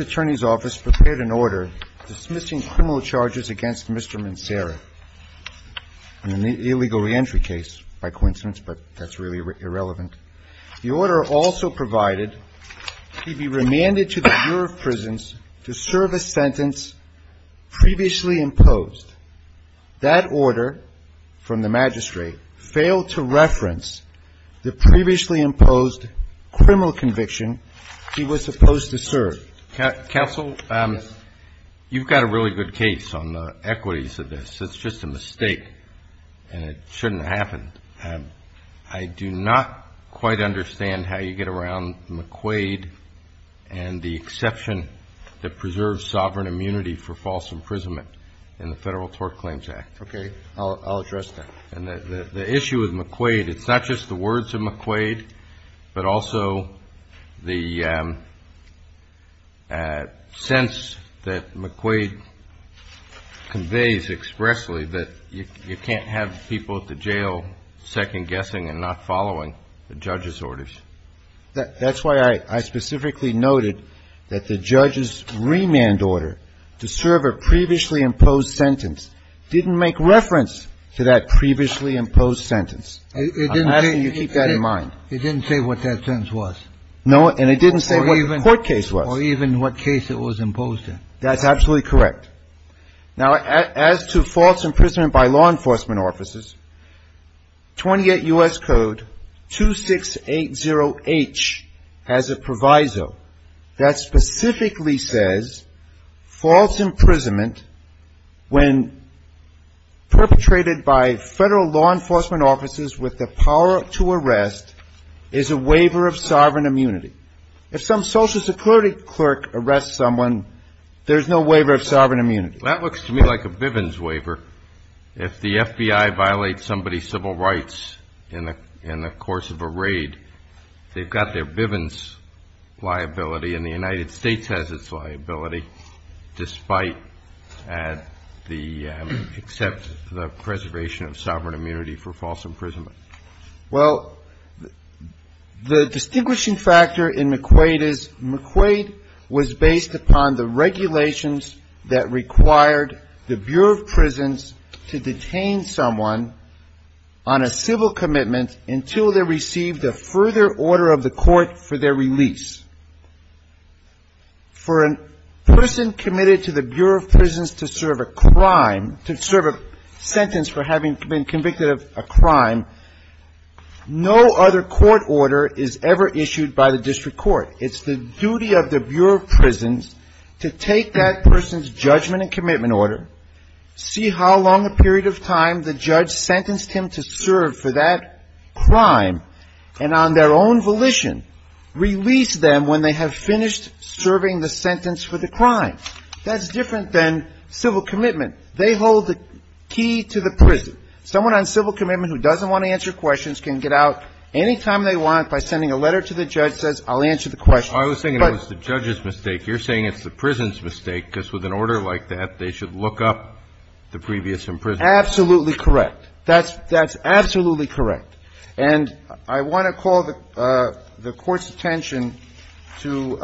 Attorney's Office prepared an order dismissing criminal charges against Mr. Mancera in an illegal reentry case, by coincidence, but that's really irrelevant. The order also provided that he be remanded to the Bureau of Prisons to serve a sentence previously imposed. That order from the magistrate failed to reference the previously imposed criminal conviction he was supposed to serve. Counsel, you've got a really good case on the equities of this. It's just a mistake and it shouldn't happen. I do not quite understand how you get around McQuaid and the exception that preserves sovereign immunity for false imprisonment in the Federal Tort Claims Act. Okay, I'll address that. And the issue with McQuaid, it's not just the words of McQuaid, but also the sense that you can't have people at the jail second-guessing and not following the judge's orders. That's why I specifically noted that the judge's remand order to serve a previously imposed sentence didn't make reference to that previously imposed sentence. I'm asking you to keep that in mind. It didn't say what that sentence was. No, and it didn't say what the court case was. Or even what case it was imposed in. That's absolutely correct. Now, as to false imprisonment by law enforcement officers, 28 U.S. Code 2680H has a proviso that specifically says false imprisonment when perpetrated by Federal law enforcement officers with the power to arrest is a waiver of sovereign immunity. If some social security clerk arrests someone, there's no waiver of sovereign immunity. That looks to me like a Bivens waiver. If the FBI violates somebody's civil rights in the course of a raid, they've got their Bivens liability, and the United States has its liability, despite the preservation of sovereign immunity for false imprisonment. Well, the distinguishing factor in McQuaid is McQuaid was based upon the regulations that required the Bureau of Prisons to detain someone on a civil commitment until they received a further order of the court for their release. For a person committed to the Bureau of Prisons to serve a crime, to serve a crime, no other court order is ever issued by the district court. It's the duty of the Bureau of Prisons to take that person's judgment and commitment order, see how long a period of time the judge sentenced him to serve for that crime, and on their own volition release them when they have finished serving the sentence for the crime. That's different than civil commitment. They hold the key to the prison. Someone on civil commitment who doesn't want to answer questions can get out any time they want by sending a letter to the judge that says, I'll answer the question. But the judge's mistake, you're saying it's the prison's mistake, because with an order like that, they should look up the previous imprisonment. Absolutely correct. That's absolutely correct. And I want to call the Court's attention to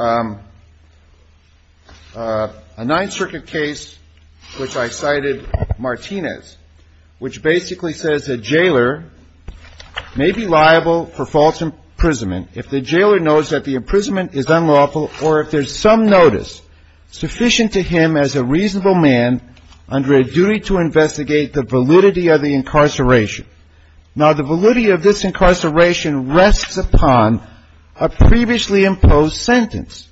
a Ninth Circuit case which I cited, Martinez, which basically says a jailer may be liable for false imprisonment if the jailer knows that the imprisonment is unlawful or if there's some notice sufficient to him as a reasonable man under a duty to investigate the validity of the incarceration. Now, the validity of this incarceration rests upon a previously imposed sentence.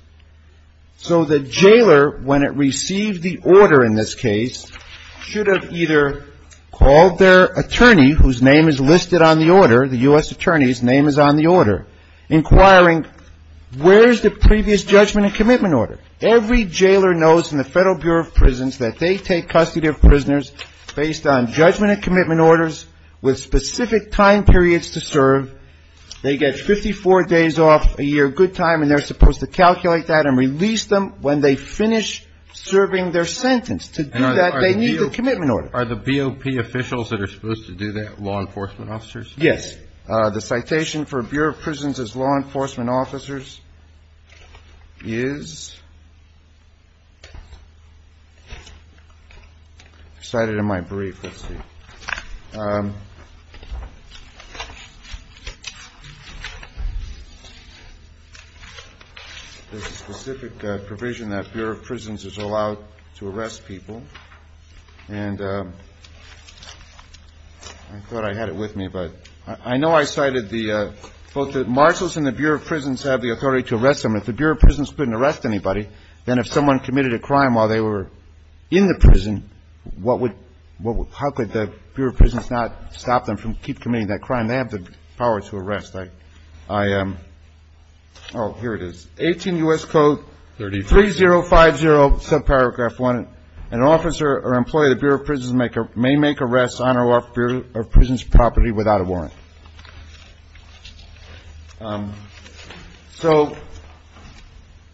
So the jailer, when it received the order in this case, should have either called their attorney, whose name is listed on the order, the U.S. attorney's name is on the order, inquiring where is the previous judgment and commitment order. Every jailer knows in the Federal Bureau of Prisons that they take custody of prisoners based on judgment and commitment orders with specific time periods to serve. They get 54 days off a year, good time, and they're supposed to calculate that and release them when they finish serving their sentence. To do that, they need the commitment order. Are the BOP officials that are supposed to do that law enforcement officers? Yes. The citation for Bureau of Prisons as law enforcement officers is cited in my brief. Let's see. There's a specific provision that Bureau of Prisons is allowed to arrest people. And I thought I had it with me, but I know I cited both the marshals and the Bureau of Prisons have the authority to arrest them. If the Bureau of Prisons couldn't arrest anybody, then if someone committed a crime while they were in the prison, how could the Bureau of Prisons not stop them from committing that crime? They have the power to arrest. Oh, here it is. 18 U.S. Code 3050, subparagraph 1. An officer or employee of the Bureau of Prisons may make arrests on or off Bureau of Prisons property without a warrant. So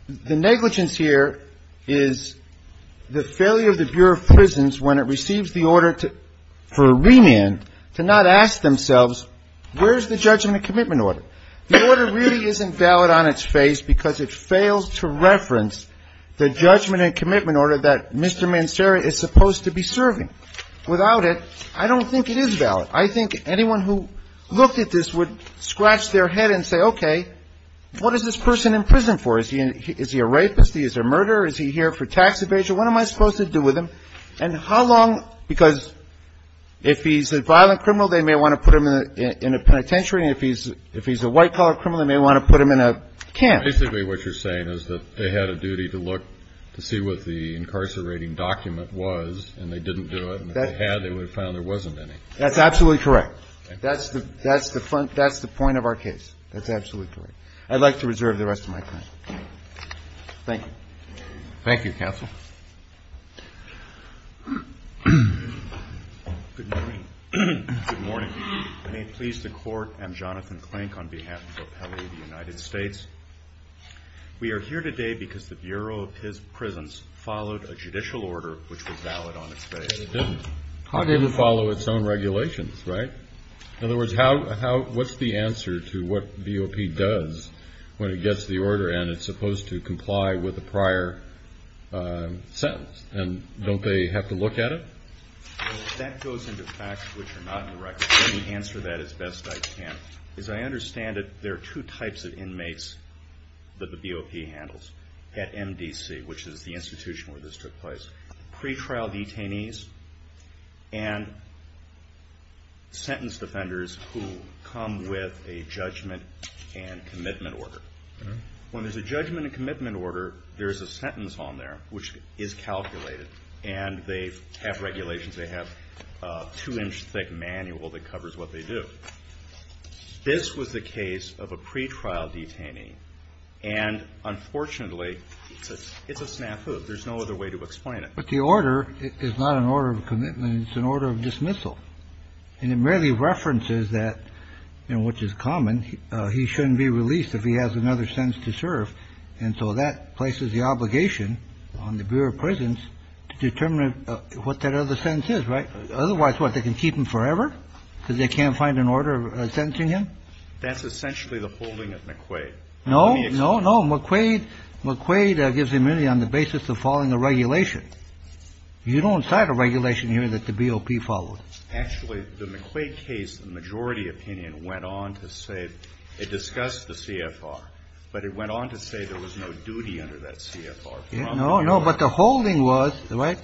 the negligence here is the failure of the Bureau of Prisons when it receives the order for remand to not ask themselves, where's the judgment and commitment order? The order really isn't valid on its face because it fails to reference the judgment and commitment order that Mr. Mancera is supposed to be serving. Without it, I don't think it is valid. I think anyone who looked at this would scratch their head and say, okay, what is this person in prison for? Is he a rapist? Is he a murderer? Is he here for tax evasion? What am I supposed to do with him? And how long? Because if he's a violent criminal, they may want to put him in a penitentiary. And if he's a white-collar criminal, they may want to put him in a camp. Basically, what you're saying is that they had a duty to look to see what the incarcerating document was and they didn't do it. And if they had, they would have found there wasn't any. That's absolutely correct. That's the point of our case. That's absolutely correct. I'd like to reserve the rest of my time. Thank you. Thank you, Counsel. Good morning. May it please the Court, I'm Jonathan Klink on behalf of the Appellate of the United States. We are here today because the Bureau of His Prisons followed a judicial order which was valid on its face. It didn't. It didn't follow its own regulations, right? In other words, what's the answer to what BOP does when it gets the order and it's supposed to comply with the prior sentence? And don't they have to look at it? That goes into facts which are not direct. Let me answer that as best I can. As I understand it, there are two types of inmates that the BOP handles at MDC, which is the institution where this took place. Pre-trial detainees and sentence defenders who come with a judgment and commitment order. When there's a judgment and commitment order, there's a sentence on there which is calculated. And they have regulations. They have a two-inch thick manual that covers what they do. This was the case of a pre-trial detainee. And unfortunately, it's a snafu. There's no other way to explain it. But the order is not an order of commitment. It's an order of dismissal. And it merely references that, which is common, he shouldn't be released if he has another sentence to serve. And so that places the obligation on the Bureau of Prisons to determine what that other sentence is, right? Otherwise, what, they can keep him forever because they can't find an order sentencing him? That's essentially the holding of McQuaid. No, no, no. McQuaid. McQuaid gives immunity on the basis of following a regulation. You don't cite a regulation here that the BOP follows. Actually, the McQuaid case, the majority opinion went on to say it discussed the CFR, but it went on to say there was no duty under that CFR. No, no. But the holding was right.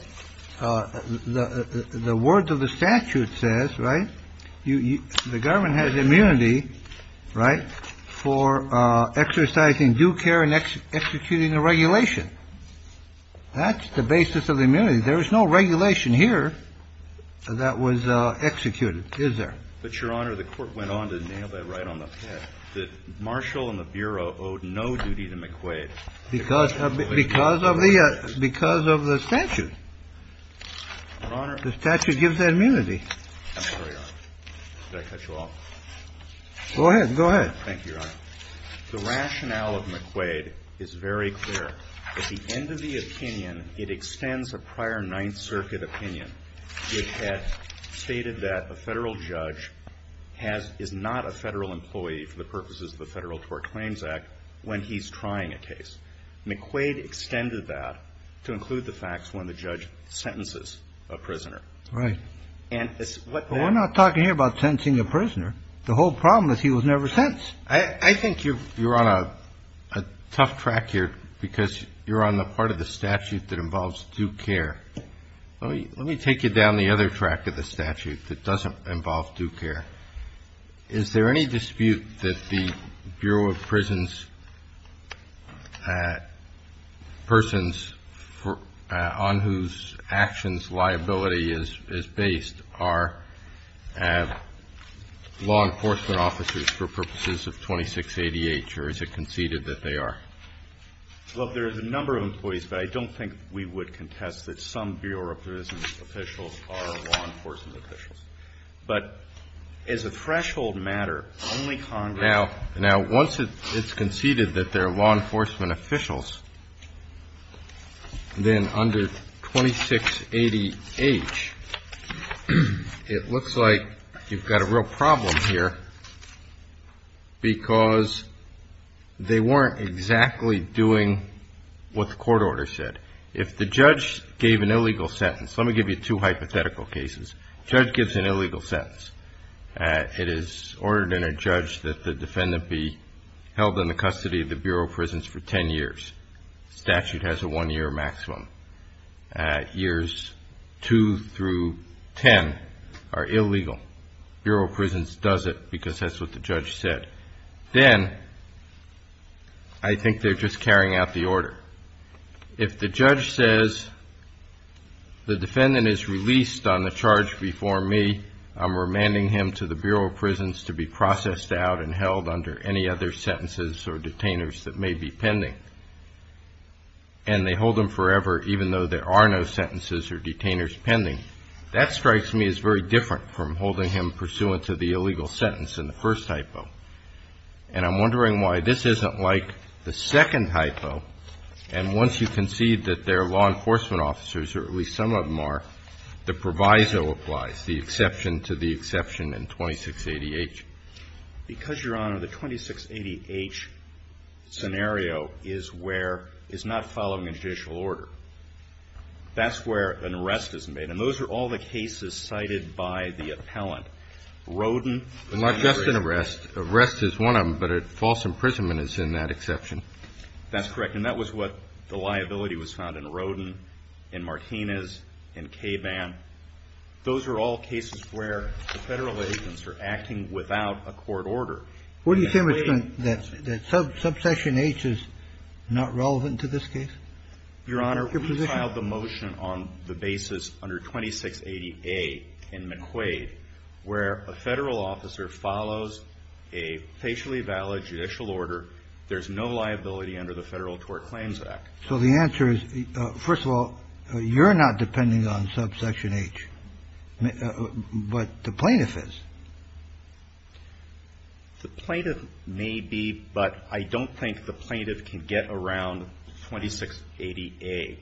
The words of the statute says, right, the government has immunity, right, for exercising due care and executing a regulation. That's the basis of the immunity. There is no regulation here that was executed, is there? But, Your Honor, the court went on to nail that right on the Marshall and the Bureau owed no duty to McQuaid because of because of the because of the statute. The statute gives immunity. I'm sorry, Your Honor. Did I cut you off? Go ahead. Go ahead. Thank you, Your Honor. The rationale of McQuaid is very clear. At the end of the opinion, it extends a prior Ninth Circuit opinion. It had stated that a federal judge has, is not a federal employee for the purposes of the Federal Tort Claims Act when he's trying a case. McQuaid extended that to include the facts when the judge sentences a prisoner. Right. And we're not talking here about sentencing a prisoner. The whole problem is he was never sentenced. I think you're on a tough track here because you're on the part of the statute that involves due care. Let me take you down the other track of the statute that doesn't involve due care. Is there any dispute that the Bureau of Prisons persons on whose actions liability is based are law enforcement officers for purposes of 26 ADH or is it conceded that they are? Well, there is a number of employees, but I don't think we would contest that some Bureau of Prisons officials are law enforcement officials. But as a threshold matter, only Congress. Now, once it's conceded that they're law enforcement officials, then under 26 ADH, it looks like you've got a real problem here because they weren't exactly doing what the court order said. If the judge gave an illegal sentence, let me give you two hypothetical cases. Judge gives an illegal sentence. It is ordered in a judge that the defendant be held in the custody of the Bureau of Prisons for 10 years. Statute has a one-year maximum. Years 2 through 10 are illegal. Bureau of Prisons does it because that's what the judge said. Then I think they're just carrying out the order. If the judge says the defendant is released on the charge before me, I'm remanding him to the Bureau of Prisons to be processed out and held under any other sentences or detainers that may be pending. And they hold him forever even though there are no sentences or detainers pending. That strikes me as very different from holding him pursuant to the illegal sentence in the first hypo. And I'm wondering why this isn't like the second hypo. And once you concede that they're law enforcement officers, or at least some of them are, the proviso applies, the exception to the exception in 26 ADH. Because, Your Honor, the 26 ADH scenario is where it's not following a judicial order. That's where an arrest is made. And those are all the cases cited by the appellant. Roden. Not just an arrest. Arrest is one of them, but a false imprisonment is in that exception. That's correct. And that was what the liability was found in Roden, in Martinez, in Caban. Those are all cases where the Federal agents are acting without a court order. What do you say, Mr. McQuade, that subsection H is not relevant to this case? Your Honor, we filed the motion on the basis under 26 ADH in McQuade where a Federal officer follows a facially valid judicial order. There's no liability under the Federal Tort Claims Act. So the answer is, first of all, you're not depending on subsection H. But the plaintiff is. The plaintiff may be, but I don't think the plaintiff can get around 26 ADH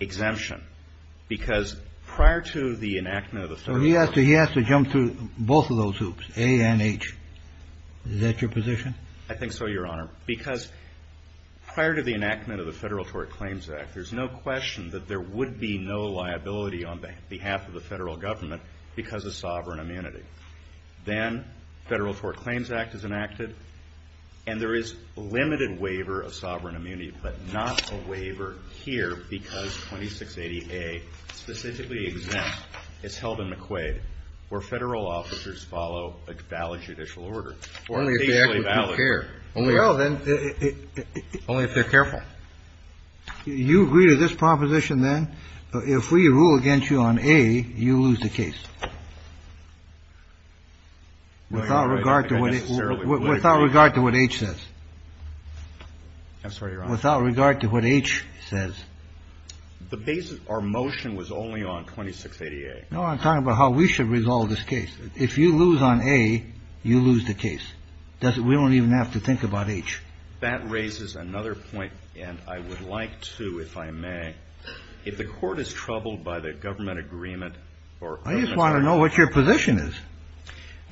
exemption. He has to jump through both of those hoops, A and H. Is that your position? I think so, Your Honor. Because prior to the enactment of the Federal Tort Claims Act, there's no question that there would be no liability on behalf of the Federal Government because of sovereign immunity. Then Federal Tort Claims Act is enacted, and there is limited waiver of sovereign immunity, but not a waiver here because 26 ADH specifically exempts. It's held in McQuade where Federal officers follow a valid judicial order. Only if they're careful. You agree to this proposition, then? If we rule against you on A, you lose the case. Without regard to what H says. I'm sorry, Your Honor. Without regard to what H says. Our motion was only on 26 ADH. No, I'm talking about how we should resolve this case. If you lose on A, you lose the case. We don't even have to think about H. That raises another point, and I would like to, if I may, if the Court is troubled by the government agreement or government agreement. I just want to know what your position is.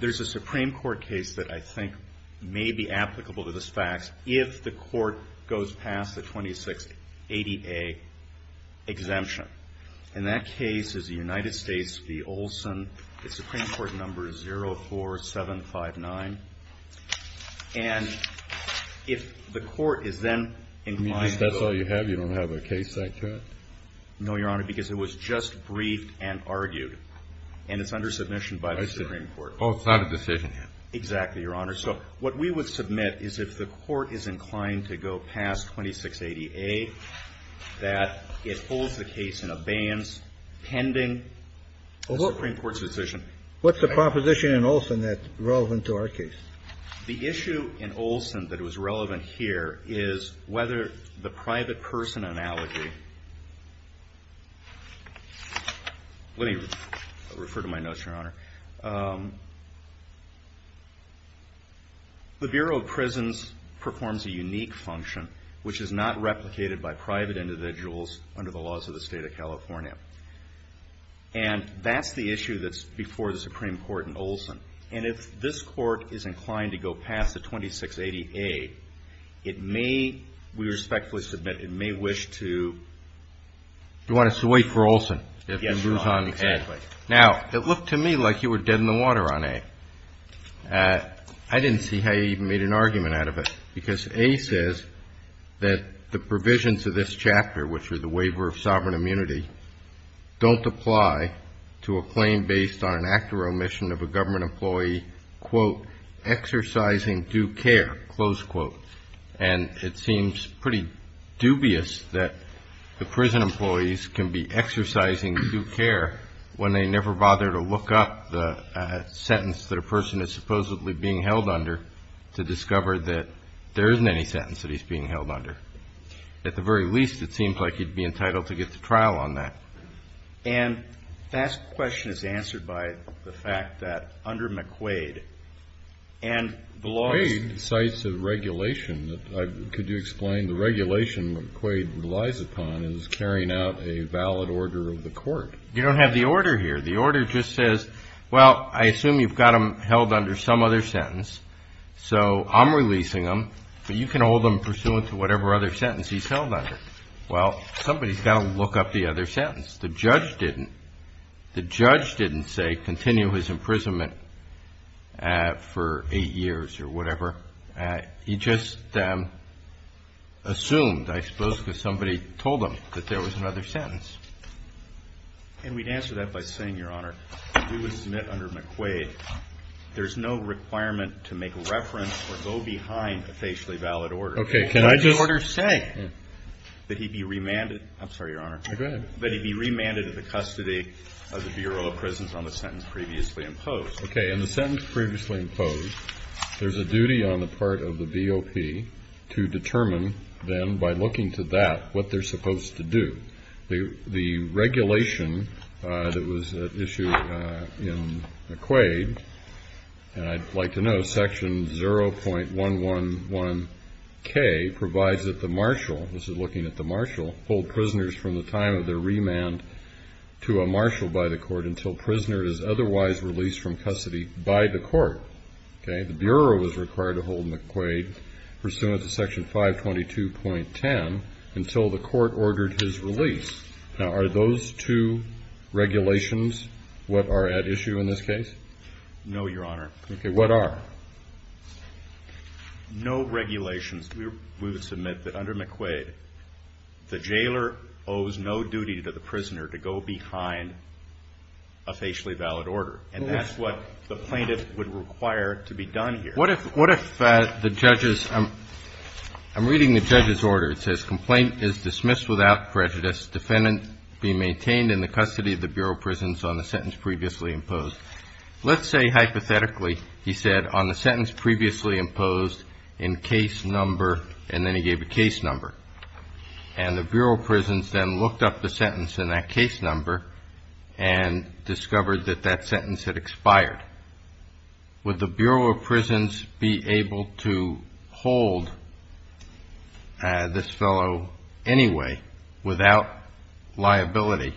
There's a Supreme Court case that I think may be applicable to this fact if the Court goes past the 26 ADH exemption. And that case is the United States v. Olson. The Supreme Court number is 04759. And if the Court is then inclined to go. You mean if that's all you have, you don't have a case like that? No, Your Honor, because it was just briefed and argued, and it's under submission by the Supreme Court. Oh, it's not a decision yet. Exactly, Your Honor. So what we would submit is if the Court is inclined to go past 26 ADH, that it holds the case in abeyance pending the Supreme Court's decision. What's the proposition in Olson that's relevant to our case? The issue in Olson that was relevant here is whether the private person analogy Let me refer to my notes, Your Honor. The Bureau of Prisons performs a unique function, which is not replicated by private individuals under the laws of the State of California. And that's the issue that's before the Supreme Court in Olson. And if this Court is inclined to go past the 26 ADH, it may, we respectfully submit, it may wish to You want us to wait for Olson? Yes, Your Honor. Now, it looked to me like you were dead in the water on A. I didn't see how you even made an argument out of it, because A says that the provisions of this chapter, which are the waiver of sovereign immunity, don't apply to a claim based on an act or omission of a government employee, quote, exercising due care, close quote. And it seems pretty dubious that the prison employees can be exercising due care when they never bother to look up the sentence that a person is supposedly being held under to discover that there isn't any sentence that he's being held under. At the very least, it seems like he'd be entitled to get to trial on that. And that question is answered by the fact that under McQuaid and the law McQuaid cites a regulation. Could you explain the regulation McQuaid relies upon is carrying out a valid order of the court. You don't have the order here. The order just says, well, I assume you've got him held under some other sentence, so I'm releasing him, but you can hold him pursuant to whatever other sentence he's held under. Well, somebody's got to look up the other sentence. The judge didn't. The judge didn't say continue his imprisonment for eight years or whatever. He just assumed, I suppose, because somebody told him that there was another sentence. And we'd answer that by saying, Your Honor, if he was met under McQuaid, there's no requirement to make a reference or go behind a facially valid order. Okay. Can I just say that he'd be remanded? I'm sorry, Your Honor. Go ahead. That he be remanded to the custody of the Bureau of Prisons on the sentence previously imposed. Okay. And the sentence previously imposed, there's a duty on the part of the VOP to determine then, by looking to that, what they're supposed to do. The regulation that was issued in McQuaid, and I'd like to know, Section 0.111K provides that the marshal, this is looking at the marshal, hold prisoners from the time of their remand to a marshal by the court until prisoner is otherwise released from custody by the court. Okay. The Bureau was required to hold McQuaid pursuant to Section 522.10 until the court ordered his release. Now, are those two regulations what are at issue in this case? No, Your Honor. Okay. And what are? No regulations. We would submit that under McQuaid, the jailer owes no duty to the prisoner to go behind a facially valid order. And that's what the plaintiff would require to be done here. What if the judge's, I'm reading the judge's order. It says, Complaint is dismissed without prejudice. Defendant be maintained in the custody of the Bureau of Prisons on the sentence previously imposed. Let's say hypothetically, he said, on the sentence previously imposed in case number, and then he gave a case number. And the Bureau of Prisons then looked up the sentence in that case number and discovered that that sentence had expired. Would the Bureau of Prisons be able to hold this fellow anyway without liability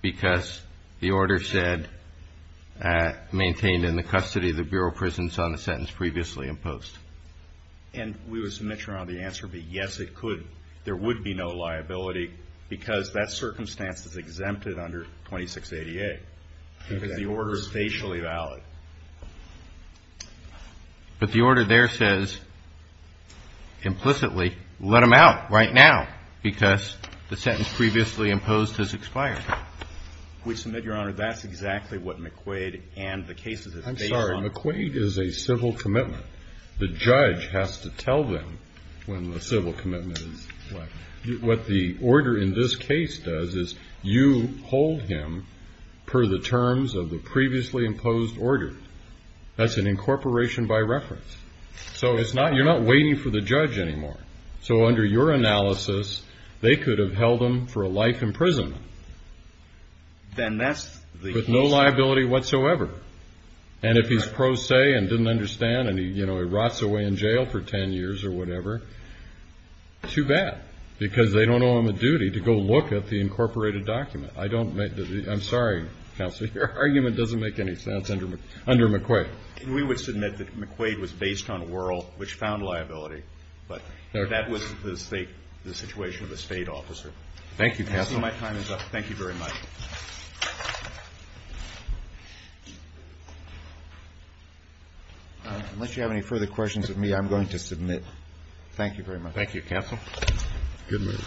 because the order said, maintain in the custody of the Bureau of Prisons on the sentence previously imposed? And we would submit, Your Honor, the answer would be yes, it could. There would be no liability because that circumstance is exempted under 2688. Because the order is facially valid. But the order there says, implicitly, let him out right now because the sentence previously imposed has expired. We submit, Your Honor, that's exactly what McQuaid and the cases is based on. I'm sorry. McQuaid is a civil commitment. The judge has to tell them when the civil commitment is. What the order in this case does is you hold him per the terms of the previously imposed order. That's an incorporation by reference. So it's not, you're not waiting for the judge anymore. So under your analysis, they could have held him for a life in prison. Then that's the case. With no liability whatsoever. And if he's pro se and didn't understand and he, you know, he rots away in jail for 10 years or whatever, too bad. Because they don't owe him a duty to go look at the incorporated document. I don't make the, I'm sorry, Counselor, your argument doesn't make any sense under McQuaid. We would submit that McQuaid was based on Wuerl, which found liability. But that was the state, the situation of the state officer. Thank you, Counselor. So my time is up. Thank you very much. Unless you have any further questions of me, I'm going to submit. Thank you very much. Thank you, Counsel. Good move.